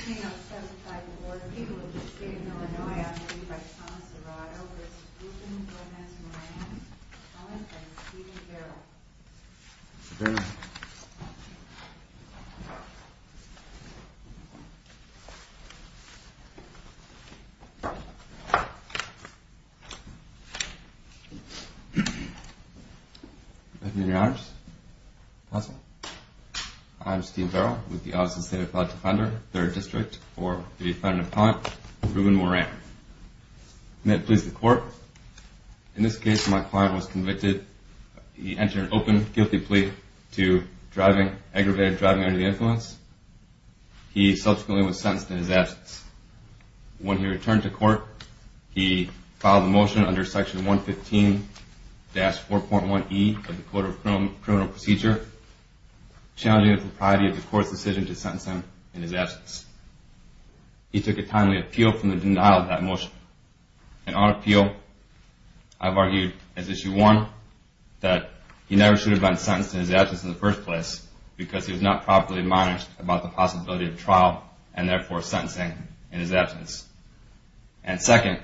I now testify before the people of the state of Illinois, on behalf of Thomas DeRogato v. Euston v. Moran, on behalf of Steven Verrill. Good evening, Your Honors. I'm Steve Verrill, with the Office of the State Appellate Defender, 3rd District, for the defendant appellant Ruben Moran. I'm here to please the Court. In this case, my client was convicted. He entered an open, guilty plea to aggravated driving under the influence. He subsequently was sentenced in his absence. When he returned to court, he filed a motion under Section 115-4.1e of the Code of Criminal Procedure, challenging the propriety of the Court's decision to sentence him in his absence. He took a timely appeal from the denial of that motion. And on appeal, I've argued, as issue one, that he never should have been sentenced in his absence in the first place because he was not properly admonished about the possibility of trial and, therefore, sentencing in his absence. And, second,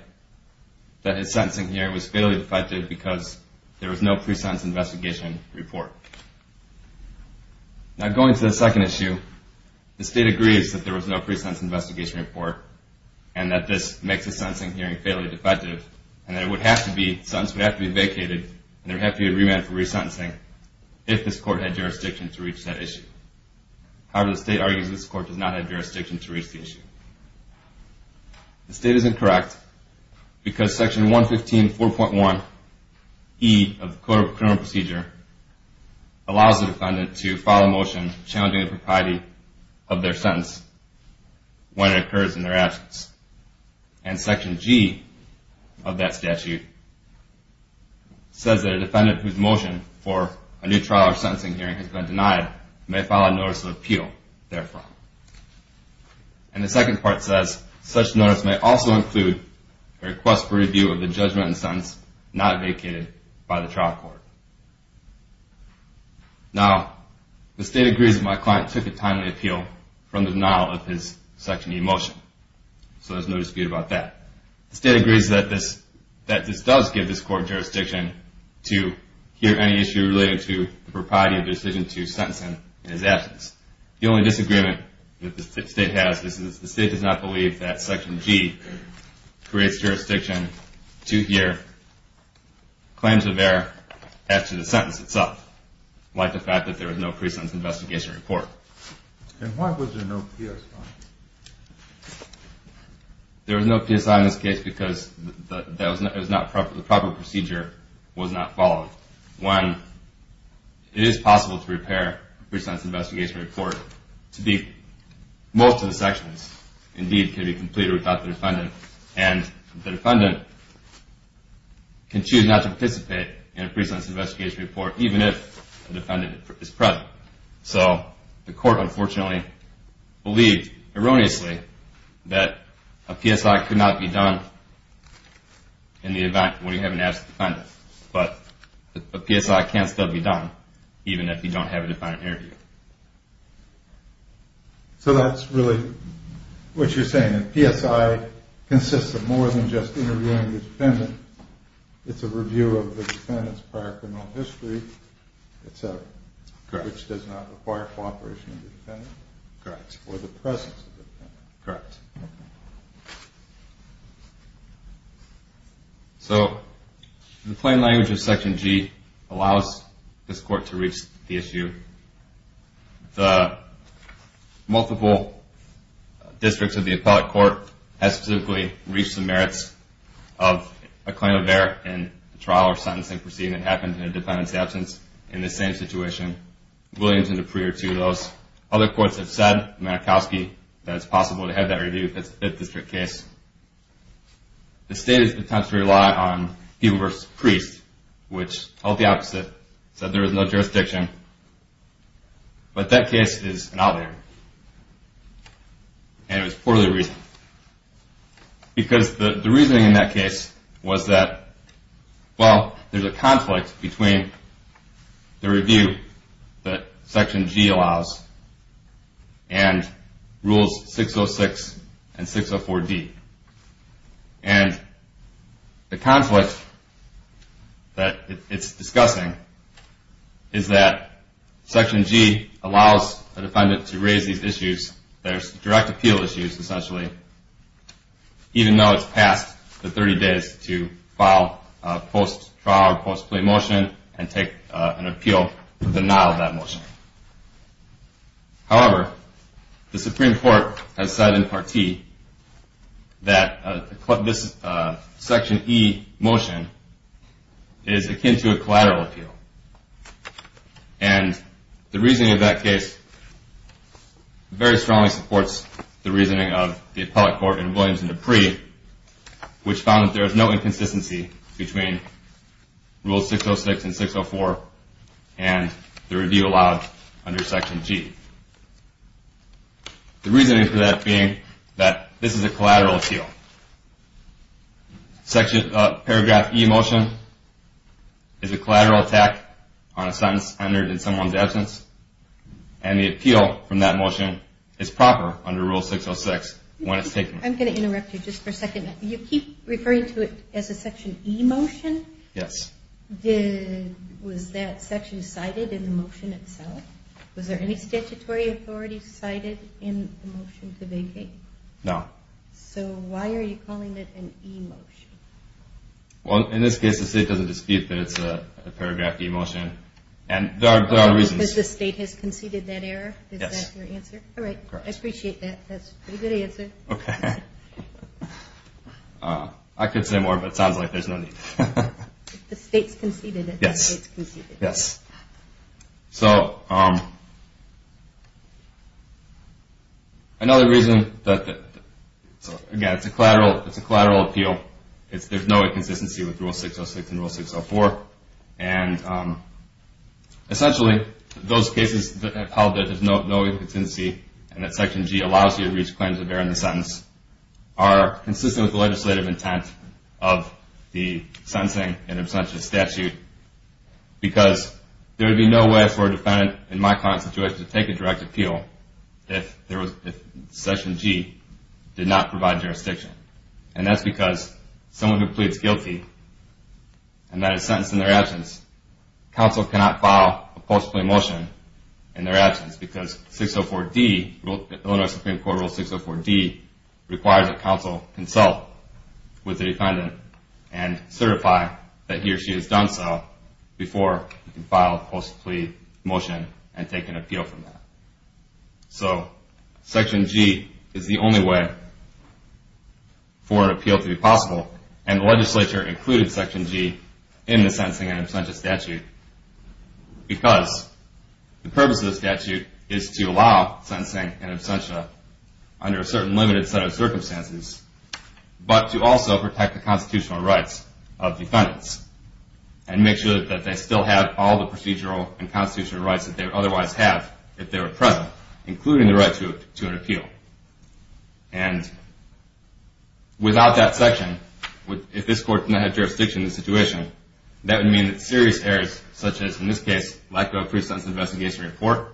that his sentencing hearing was fatally defective because there was no pre-sentence investigation report. Now, going to the second issue, the State agrees that there was no pre-sentence investigation report and that this makes the sentencing hearing fatally defective and that the sentence would have to be vacated and there would have to be a remand for resentencing if this Court had jurisdiction to reach that issue. However, the State argues this Court does not have jurisdiction to reach the issue. The State is incorrect because Section 115-4.1e of the Code of Criminal Procedure allows the defendant to file a motion challenging the propriety of their sentence when it occurs in their absence. And Section G of that statute says that a defendant whose motion for a new trial or sentencing hearing has been denied may file a notice of appeal, therefore. And the second part says such notice may also include a request for review of the judgment and sentence not vacated by the trial court. Now, the State agrees that my client took the time to appeal from the denial of his Section E motion. So there's no dispute about that. The State agrees that this does give this Court jurisdiction to hear any issue related to the propriety of decision to sentence him in his absence. The only disagreement that the State has is that the State does not believe that Section G creates jurisdiction to hear claims of error as to the sentence itself, like the fact that there was no pre-sentence investigation report. And why was there no PSI? There was no PSI in this case because the proper procedure was not followed. One, it is possible to repair a pre-sentence investigation report. Most of the sections, indeed, can be completed without the defendant. And the defendant can choose not to participate in a pre-sentence investigation report even if the defendant is present. So the Court, unfortunately, believed erroneously that a PSI could not be done in the event when you have an absent defendant. But a PSI can still be done even if you don't have a defendant interviewed. So that's really what you're saying. A PSI consists of more than just interviewing the defendant. It's a review of the defendant's prior criminal history, etc. Correct. Which does not require cooperation of the defendant. Correct. Or the presence of the defendant. Correct. So the plain language of Section G allows this Court to reach the issue. The multiple districts of the appellate court have specifically reached the merits of a claim of error in a trial or sentencing proceeding that happened in a defendant's absence. In this same situation, Williams and Dupree are two of those. Other courts have said, Manachowski, that it's possible to have that review if it's a 5th district case. The state has attempted to rely on Giebel v. Priest, which held the opposite, said there was no jurisdiction. But that case is not there. And it was poorly reasoned. Because the reasoning in that case was that, well, there's a conflict between the review that Section G allows and Rules 606 and 604D. And the conflict that it's discussing is that Section G allows the defendant to raise these issues. There's direct appeal issues, essentially, even though it's past the 30 days to file a post-trial or post-play motion and take an appeal to denial that motion. However, the Supreme Court has said in Part T that this Section E motion is akin to a collateral appeal. And the reasoning of that case very strongly supports the reasoning of the appellate court in Williams and Dupree, which found that there is no inconsistency between Rules 606 and 604 and the review allowed under Section G. The reasoning for that being that this is a collateral appeal. Paragraph E motion is a collateral attack on a sentence entered in someone's absence. And the appeal from that motion is proper under Rule 606 when it's taken. I'm going to interrupt you just for a second. You keep referring to it as a Section E motion. Yes. Was that section cited in the motion itself? Was there any statutory authority cited in the motion to vacate? No. So why are you calling it an E motion? Well, in this case, the state doesn't dispute that it's a paragraph E motion. And there are reasons. Yes. Is that your answer? All right. I appreciate that. That's a pretty good answer. Okay. I could say more, but it sounds like there's no need. The state's conceded it. Yes. Yes. So another reason that, again, it's a collateral appeal. There's no inconsistency with Rule 606 and Rule 604. And essentially, those cases that have held that there's no inconsistency and that Section G allows you to reach claims of error in the sentence are consistent with the legislative intent of the sentencing and abstentions statute because there would be no way for a defendant in my current situation to take a direct appeal if Section G did not provide jurisdiction. And that's because someone who pleads guilty and that is sentenced in their absence, counsel cannot file a post-plea motion in their absence because 604D, Illinois Supreme Court Rule 604D, requires that counsel consult with the defendant and certify that he or she has done so before you can file a post-plea motion and take an appeal from that. So Section G is the only way for an appeal to be possible. And the legislature included Section G in the sentencing and absentia statute because the purpose of the statute is to allow sentencing and absentia under a certain limited set of circumstances, but to also protect the constitutional rights of defendants and make sure that they still have all the procedural and constitutional rights that they would otherwise have if they were present, including the right to an appeal. And without that section, if this court did not have jurisdiction in the situation, that would mean that serious errors such as, in this case, lack of a pre-sentence investigation report,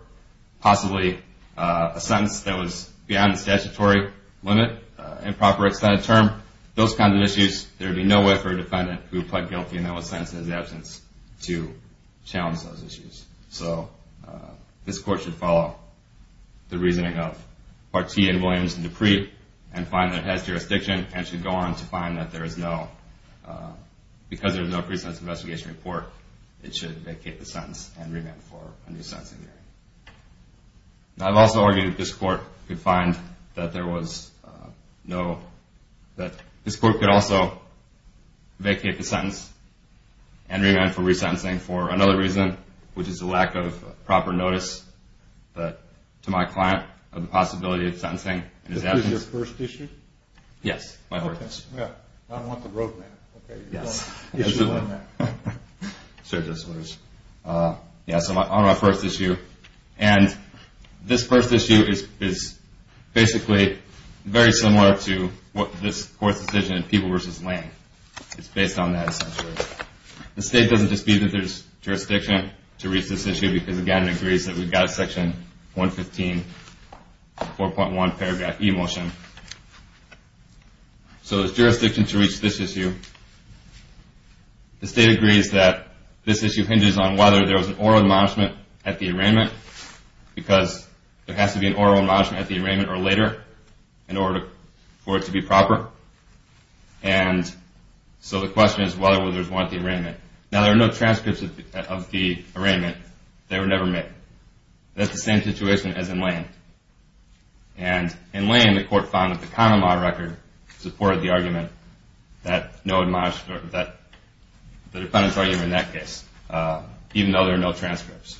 possibly a sentence that was beyond the statutory limit, improper extended term, those kinds of issues, there would be no way for a defendant who pled guilty and then was sentenced in his absence to challenge those issues. So this court should follow the reasoning of Partee and Williams and Dupree and find that it has jurisdiction and should go on to find that there is no, because there is no pre-sentence investigation report, it should vacate the sentence and remand for a new sentencing hearing. Now I've also argued that this court could find that there was no, that this court could also vacate the sentence and remand for resentencing for another reason, which is a lack of proper notice to my client of the possibility of sentencing in his absence. Is this your first issue? Yes. Okay. I don't want the roadmap. Okay. Yes. Issue on that. Yes, on my first issue. And this first issue is basically very similar to what this court's decision in People v. Lane. It's based on that essentially. The state doesn't dispute that there's jurisdiction to reach this issue because, again, it agrees that we've got Section 115, 4.1 paragraph e-motion. So there's jurisdiction to reach this issue. The state agrees that this issue hinges on whether there was an oral admonishment at the arraignment because there has to be an oral admonishment at the arraignment or later in order for it to be proper. And so the question is whether or not there was one at the arraignment. Now, there are no transcripts of the arraignment. They were never made. That's the same situation as in Lane. And in Lane, the court found that the common law record supported the argument that the defendant's argument in that case, even though there are no transcripts.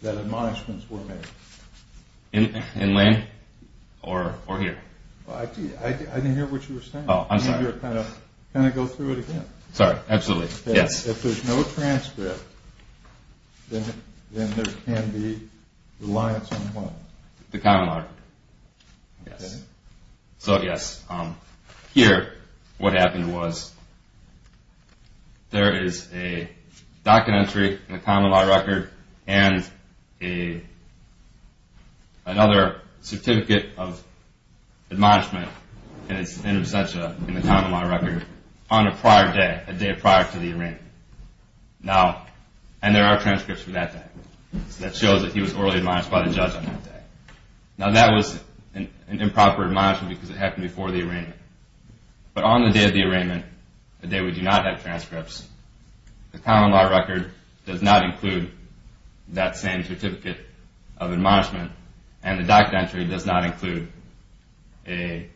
That admonishments were made. In Lane or here? I didn't hear what you were saying. Oh, I'm sorry. Can I go through it again? Sorry, absolutely. If there's no transcript, then there can be reliance on what? The common law record. Okay. So, yes, here what happened was there is a docket entry in the common law record and another certificate of admonishment in absentia in the common law record on a prior day, a day prior to the arraignment. And there are transcripts from that day. That shows that he was orally admonished by the judge on that day. Now, that was an improper admonishment because it happened before the arraignment. But on the day of the arraignment, the day we do not have transcripts, the common law record does not include that same certificate of admonishment and the docket entry does not include a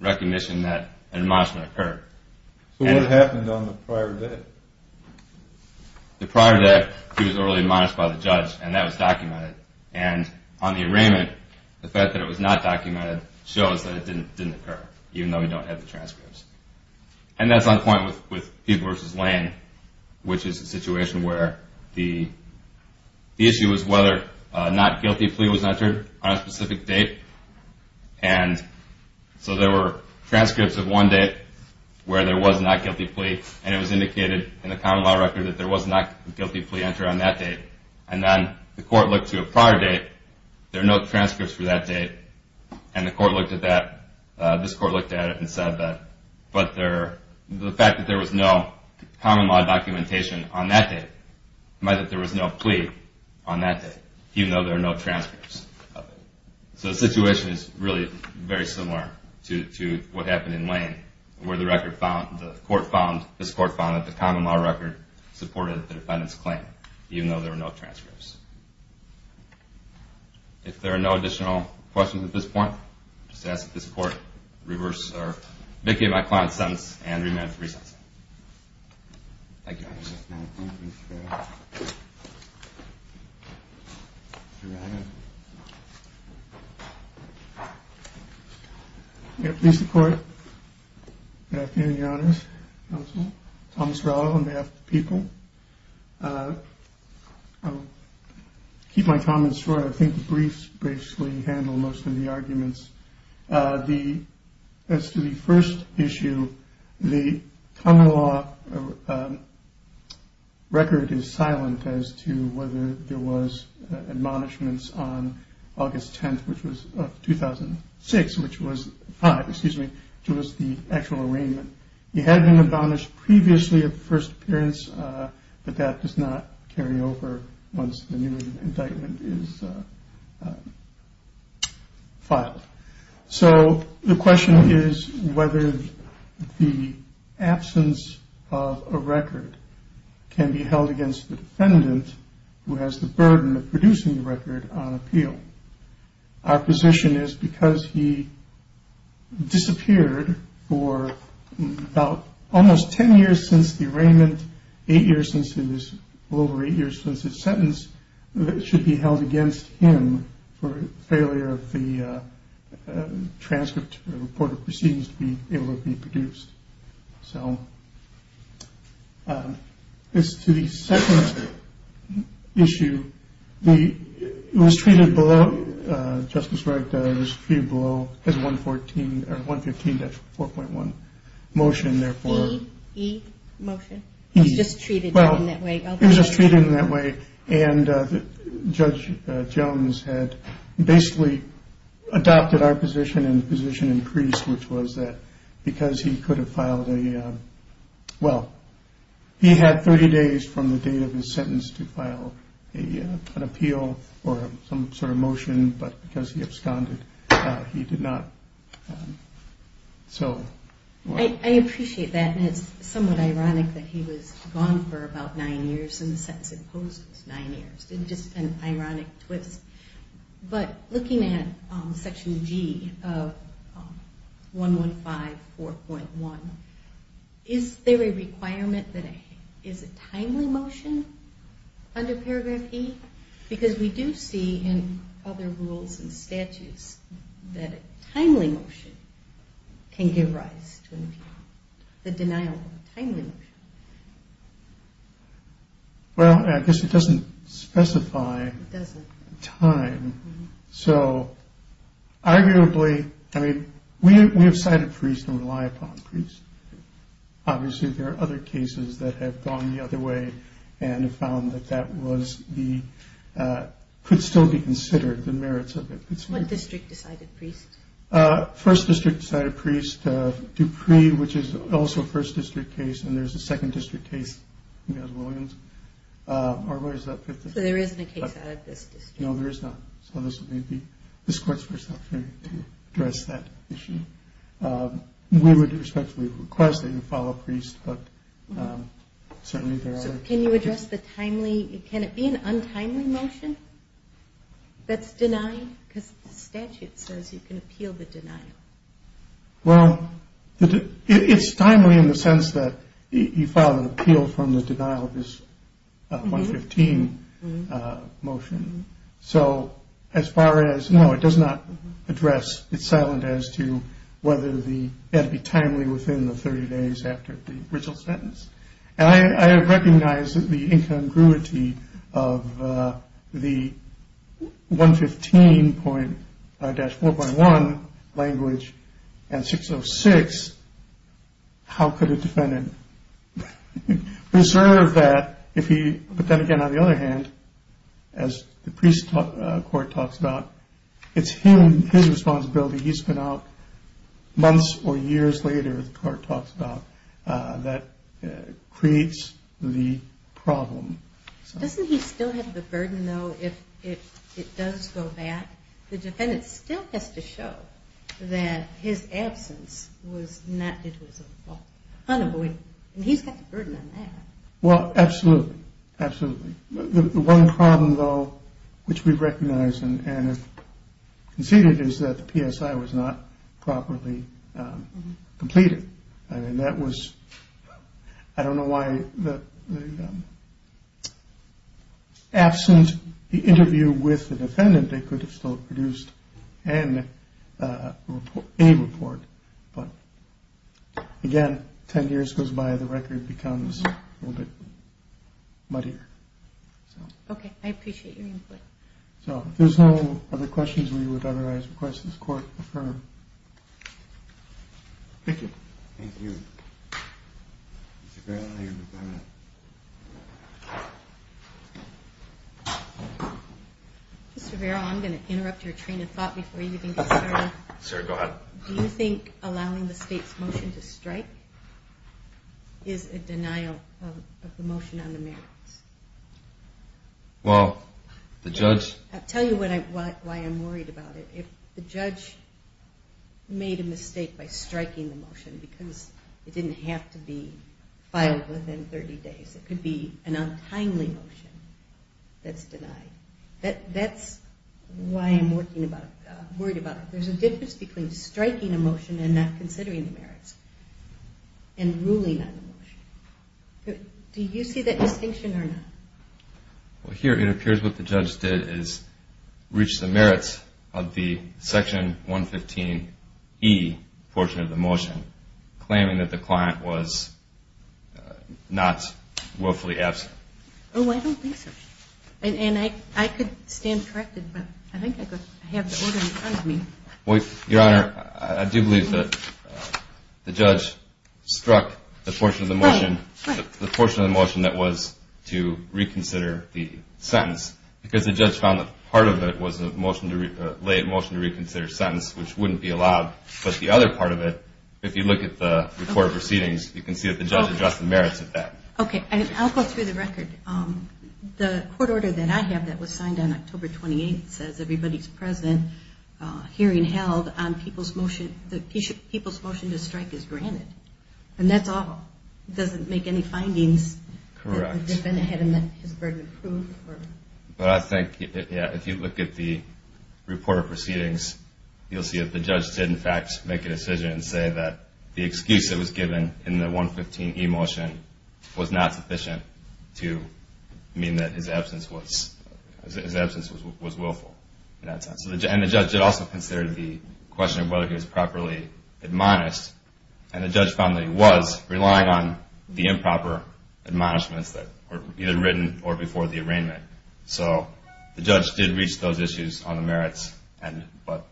recognition that an admonishment occurred. So what happened on the prior day? The prior day, he was orally admonished by the judge, and that was documented. And on the arraignment, the fact that it was not documented shows that it didn't occur, even though we don't have the transcripts. And that's on point with Peete versus Lane, which is a situation where the issue is whether a not guilty plea was entered on a specific date. And so there were transcripts of one date where there was not guilty plea, and it was indicated in the common law record that there was not a guilty plea entered on that date. And then the court looked to a prior date. There are no transcripts for that date. And the court looked at that. This court looked at it and said that the fact that there was no common law documentation on that date meant that there was no plea on that date, even though there are no transcripts of it. So the situation is really very similar to what happened in Lane, where this court found that the common law record supported the defendant's claim, even though there were no transcripts. If there are no additional questions at this point, I'll just ask that this court reverse or vacate my client's sentence and remand it for re-sencing. Thank you. Thank you, Mr. Farrell. We have police in court. Good afternoon, your honors, counsel. Thomas Rowland on behalf of the people. I'll keep my comments short. I think the briefs basically handle most of the arguments. As to the first issue, the common law record is silent as to whether there was admonishments on August 10th, 2006, which was the actual arraignment. It had been admonished previously at the first appearance, but that does not carry over once the new indictment is filed. So the question is whether the absence of a record can be held against the defendant, who has the burden of producing the record on appeal. Our position is because he disappeared for about almost 10 years since the arraignment, eight years since his sentence, that it should be held against him for failure of the transcript or report of proceedings to be able to be produced. So as to the second issue, it was treated below, Justice Wright, it was treated below as 115-4.1 motion, therefore. E motion. It was just treated in that way. It was just treated in that way, and Judge Jones had basically adopted our position and the position increased, which was that because he could have filed a, well, he had 30 days from the date of his sentence to file an appeal or some sort of motion, but because he absconded, he did not. So. I appreciate that, and it's somewhat ironic that he was gone for about nine years, and the sentence imposed was nine years. It's just an ironic twist. But looking at Section G of 115-4.1, is there a requirement that it is a timely motion under Paragraph E? Because we do see in other rules and statutes that a timely motion can give rise to an appeal, the denial of a timely motion. Well, I guess it doesn't specify. It doesn't. Time. So, arguably, I mean, we have cited Priest and rely upon Priest. Obviously, there are other cases that have gone the other way and have found that that was the, could still be considered the merits of it. What district decided Priest? First District decided Priest. Dupree, which is also a First District case, and there's a Second District case in Williams. So there isn't a case out of this district? No, there is not. So this may be this court's first opportunity to address that issue. We would respectfully request that you file a Priest, but certainly there are. So can you address the timely, can it be an untimely motion that's denied? Because the statute says you can appeal the denial. Well, it's timely in the sense that you filed an appeal from the denial of this 115 motion. So as far as, no, it does not address, it's silent as to whether the, it would be timely within the 30 days after the original sentence. And I recognize that the incongruity of the 115 dash 4.1 language and 606, how could a defendant reserve that if he, but then again, on the other hand, as the Priest court talks about, it's his responsibility. He's been out months or years later, the court talks about, that creates the problem. Doesn't he still have the burden, though, if it does go back? The defendant still has to show that his absence was not, it was unavoidable. And he's got the burden on that. Well, absolutely, absolutely. The one problem, though, which we recognize and have conceded is that the PSI was not properly completed. I mean, that was, I don't know why, absent the interview with the defendant, they could have still produced a report. But again, 10 years goes by, the record becomes a little bit muddier. Okay, I appreciate your input. So if there's no other questions, we would otherwise request this court affirm. Thank you. Thank you. Mr. Vero, your department. Mr. Vero, I'm going to interrupt your train of thought before you even get started. Sure, go ahead. Do you think allowing the state's motion to strike is a denial of the motion on the merits? Well, the judge... I'll tell you why I'm worried about it. If the judge made a mistake by striking the motion because it didn't have to be filed within 30 days, it could be an untimely motion that's denied. That's why I'm worried about it. There's a difference between striking a motion and not considering the merits and ruling on the motion. Do you see that distinction or not? Well, here it appears what the judge did is reach the merits of the Section 115E portion of the motion, claiming that the client was not willfully absent. Oh, I don't think so. And I could stand corrected, but I think I have the order in front of me. Your Honor, I do believe that the judge struck the portion of the motion that was to reconsider the sentence because the judge found that part of it was a late motion to reconsider sentence, which wouldn't be allowed, but the other part of it, if you look at the court proceedings, you can see that the judge addressed the merits of that. Okay, and I'll go through the record. The court order that I have that was signed on October 28th says everybody's present, hearing held, and the people's motion to strike is granted, and that's all. It doesn't make any findings. Correct. But I think, yeah, if you look at the report of proceedings, you'll see that the judge did, in fact, make a decision and say that the excuse that was given in the 115E motion was not sufficient to mean that his absence was willful. And the judge had also considered the question of whether he was properly admonished, and the judge found that he was, relying on the improper admonishments that were either written or before the arraignment. So the judge did reach those issues on the merits, but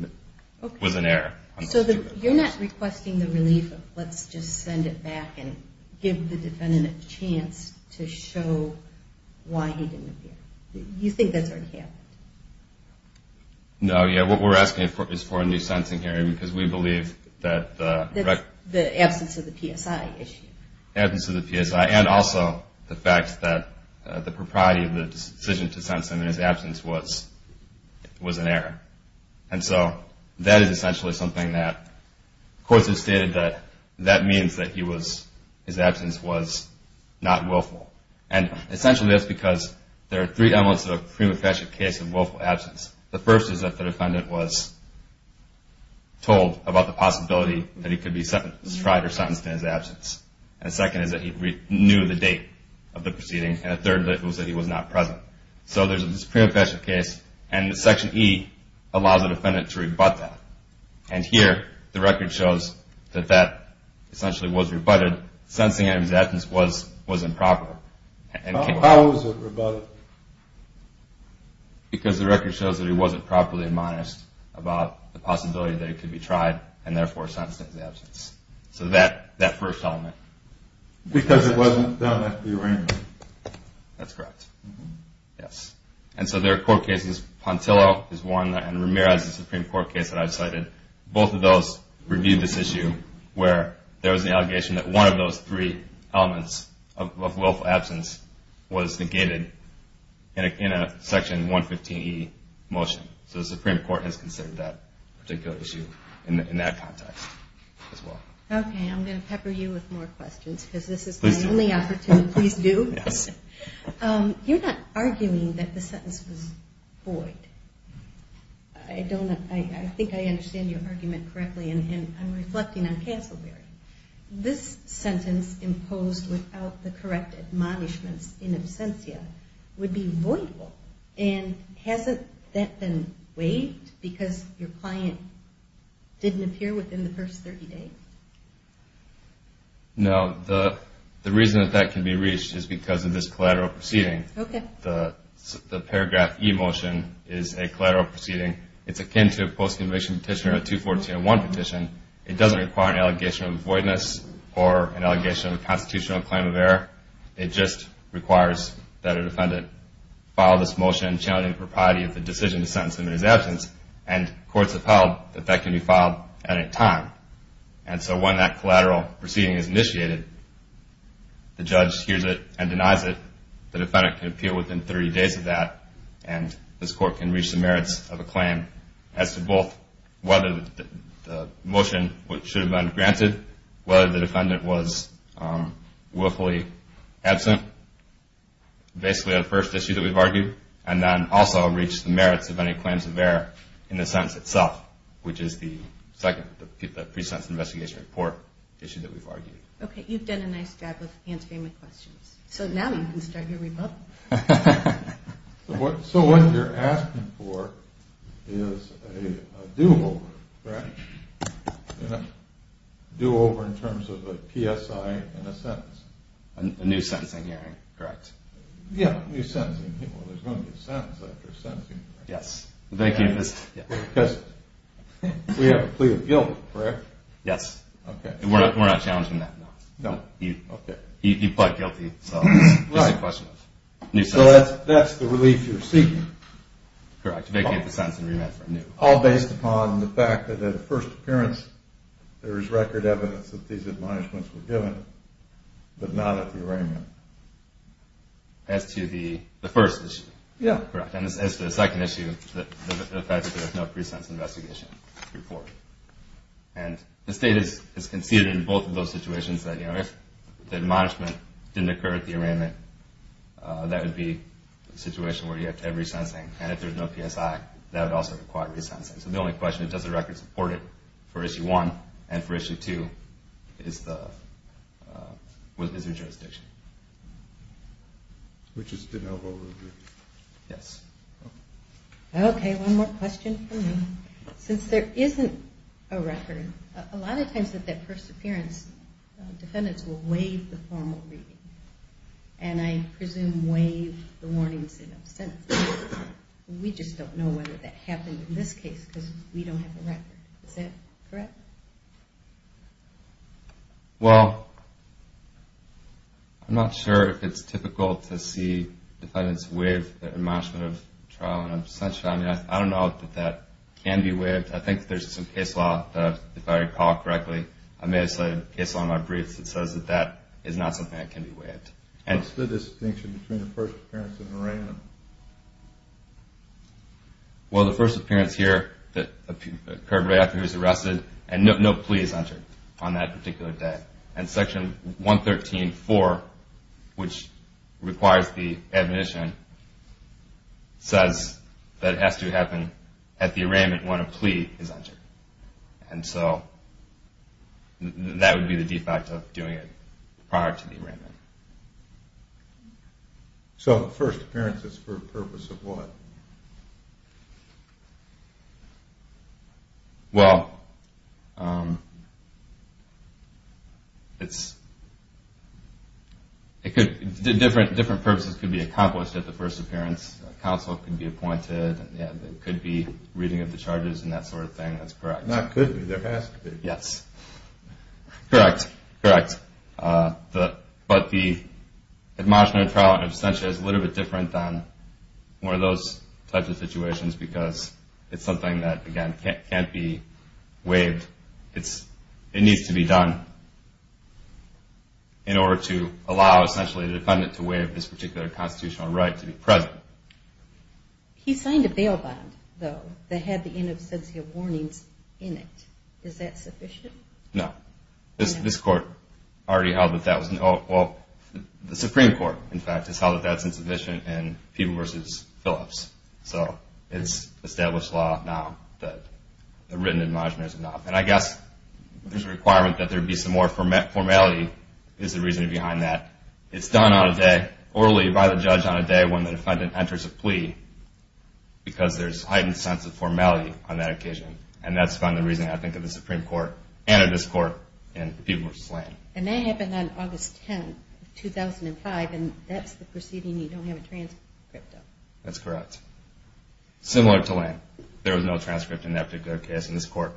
it was an error. So you're not requesting the relief of let's just send it back and give the defendant a chance to show why he didn't appear. You think that's already happened? No, yeah, what we're asking is for a new sentencing hearing because we believe that the record – That's the absence of the PSI issue. The absence of the PSI and also the fact that the propriety of the decision to sentence him in his absence was an error. And so that is essentially something that courts have stated that that means that he was – his absence was not willful. And essentially that's because there are three elements of a prima facie case of willful absence. The first is that the defendant was told about the possibility that he could be tried or sentenced in his absence. And the second is that he knew the date of the proceeding. And the third was that he was not present. So there's a prima facie case, and Section E allows the defendant to rebut that. And here the record shows that that essentially was rebutted. Sentencing in his absence was improper. How was it rebutted? Because the record shows that he wasn't properly admonished about the possibility that he could be tried and therefore sentenced in his absence. So that first element. Because it wasn't done after the arraignment. That's correct. Yes. And so there are court cases – Pontillo is one, and Ramirez is a Supreme Court case that I've cited. Both of those reviewed this issue where there was an allegation that one of those three elements of willful absence was negated in a Section 115E motion. So the Supreme Court has considered that particular issue in that context as well. Okay, I'm going to pepper you with more questions because this is my only opportunity. Please do. You're not arguing that the sentence was void. I think I understand your argument correctly, and I'm reflecting on Castleberry. This sentence imposed without the correct admonishments in absentia would be voidable. And hasn't that been waived because your client didn't appear within the first 30 days? No, the reason that that can be reached is because of this collateral proceeding. The Paragraph E motion is a collateral proceeding. It's akin to a post-conviction petition or a 214-1 petition. It doesn't require an allegation of voidness or an allegation of a constitutional claim of error. It just requires that a defendant file this motion challenging the propriety of the decision to sentence him in his absence. And courts have held that that can be filed at a time. And so when that collateral proceeding is initiated, the judge hears it and denies it. The defendant can appeal within 30 days of that, and this court can reach the merits of a claim as to both whether the motion should have been granted, whether the defendant was willfully absent, basically on the first issue that we've argued, and then also reach the merits of any claims of error in the sentence itself, which is the pre-sentence investigation report issue that we've argued. Okay, you've done a nice job of answering my questions. So now you can start your rebuttal. So what you're asking for is a do-over, correct? A do-over in terms of a PSI and a sentence? A new sentencing hearing, correct. Yeah, a new sentencing hearing. Well, there's going to be a sentence after a sentencing hearing. Yes. Because we have a plea of guilt, correct? Yes. Okay. And we're not challenging that. No, okay. You pled guilty, so it's just a question of a new sentence. So that's the relief you're seeking? Correct, to vacate the sentence and remand for a new one. As to the first issue? Yeah. Correct. And as to the second issue, the fact that there's no pre-sentence investigation report. And the state has conceded in both of those situations that if the admonishment didn't occur at the arraignment, that would be a situation where you have to have re-sensing. And if there's no PSI, that would also require re-sensing. So the only question is, does the record support it for issue one? And for issue two, is there jurisdiction? We just didn't have a review. Yes. Okay, one more question from me. Since there isn't a record, a lot of times at that first appearance, defendants will waive the formal reading. And I presume waive the warnings in absentia. We just don't know whether that happened in this case because we don't have a record. Is that correct? Well, I'm not sure if it's typical to see defendants waive their admonishment of trial in absentia. I don't know that that can be waived. I think there's some case law that, if I recall correctly, I may have cited a case law in my briefs that says that that is not something that can be waived. What's the distinction between the first appearance and arraignment? Well, the first appearance here occurred right after he was arrested, and no plea is entered on that particular day. And Section 113.4, which requires the admonition, says that it has to happen at the arraignment when a plea is entered. And so that would be the defect of doing it prior to the arraignment. So the first appearance is for a purpose of what? Well, different purposes can be accomplished at the first appearance. Counsel can be appointed. There could be reading of the charges and that sort of thing. That's correct. Not could be. There has to be. Yes. Correct. Correct. But the admonishment of trial in absentia is a little bit different than one of those types of situations because it's something that, again, can't be waived. It needs to be done in order to allow, essentially, the defendant to waive this particular constitutional right to be present. He signed a bail bond, though, that had the in-absentia warnings in it. Is that sufficient? No. This Court already held that that was not. Well, the Supreme Court, in fact, has held that that's insufficient in Peeble v. Phillips. So it's established law now that the written admonishment is not. And I guess there's a requirement that there be some more formality is the reason behind that. It's done on a day, orally, by the judge on a day when the defendant enters a plea because there's heightened sense of formality on that occasion. And that's been the reason, I think, of the Supreme Court and of this Court in Peeble v. Lane. And that happened on August 10, 2005, and that's the proceeding you don't have a transcript of. That's correct. Similar to Lane. There was no transcript in that particular case in this Court.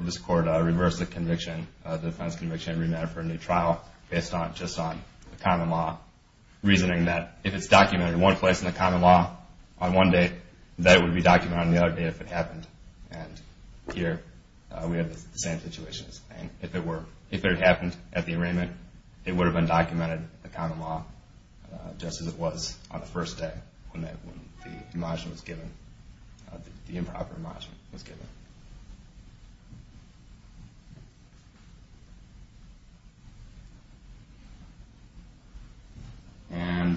This Court reversed the defense conviction and remanded for a new trial based just on the common law, reasoning that if it's documented in one place in the common law on one day, that it would be documented on the other day if it happened. And here we have the same situations. If it had happened at the arraignment, it would have been documented in the common law just as it was on the first day when the improper image was given. And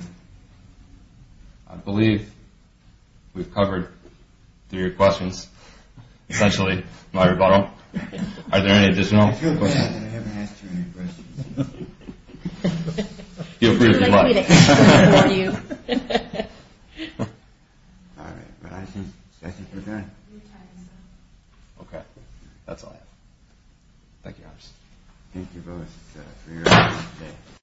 I believe we've covered three questions. Essentially, my rebuttal. Are there any additional questions? I feel bad that I haven't asked you any questions. Feel free to come up. All right. Well, I think we're done. Okay. That's all I have. Thank you. Thank you both for your time today.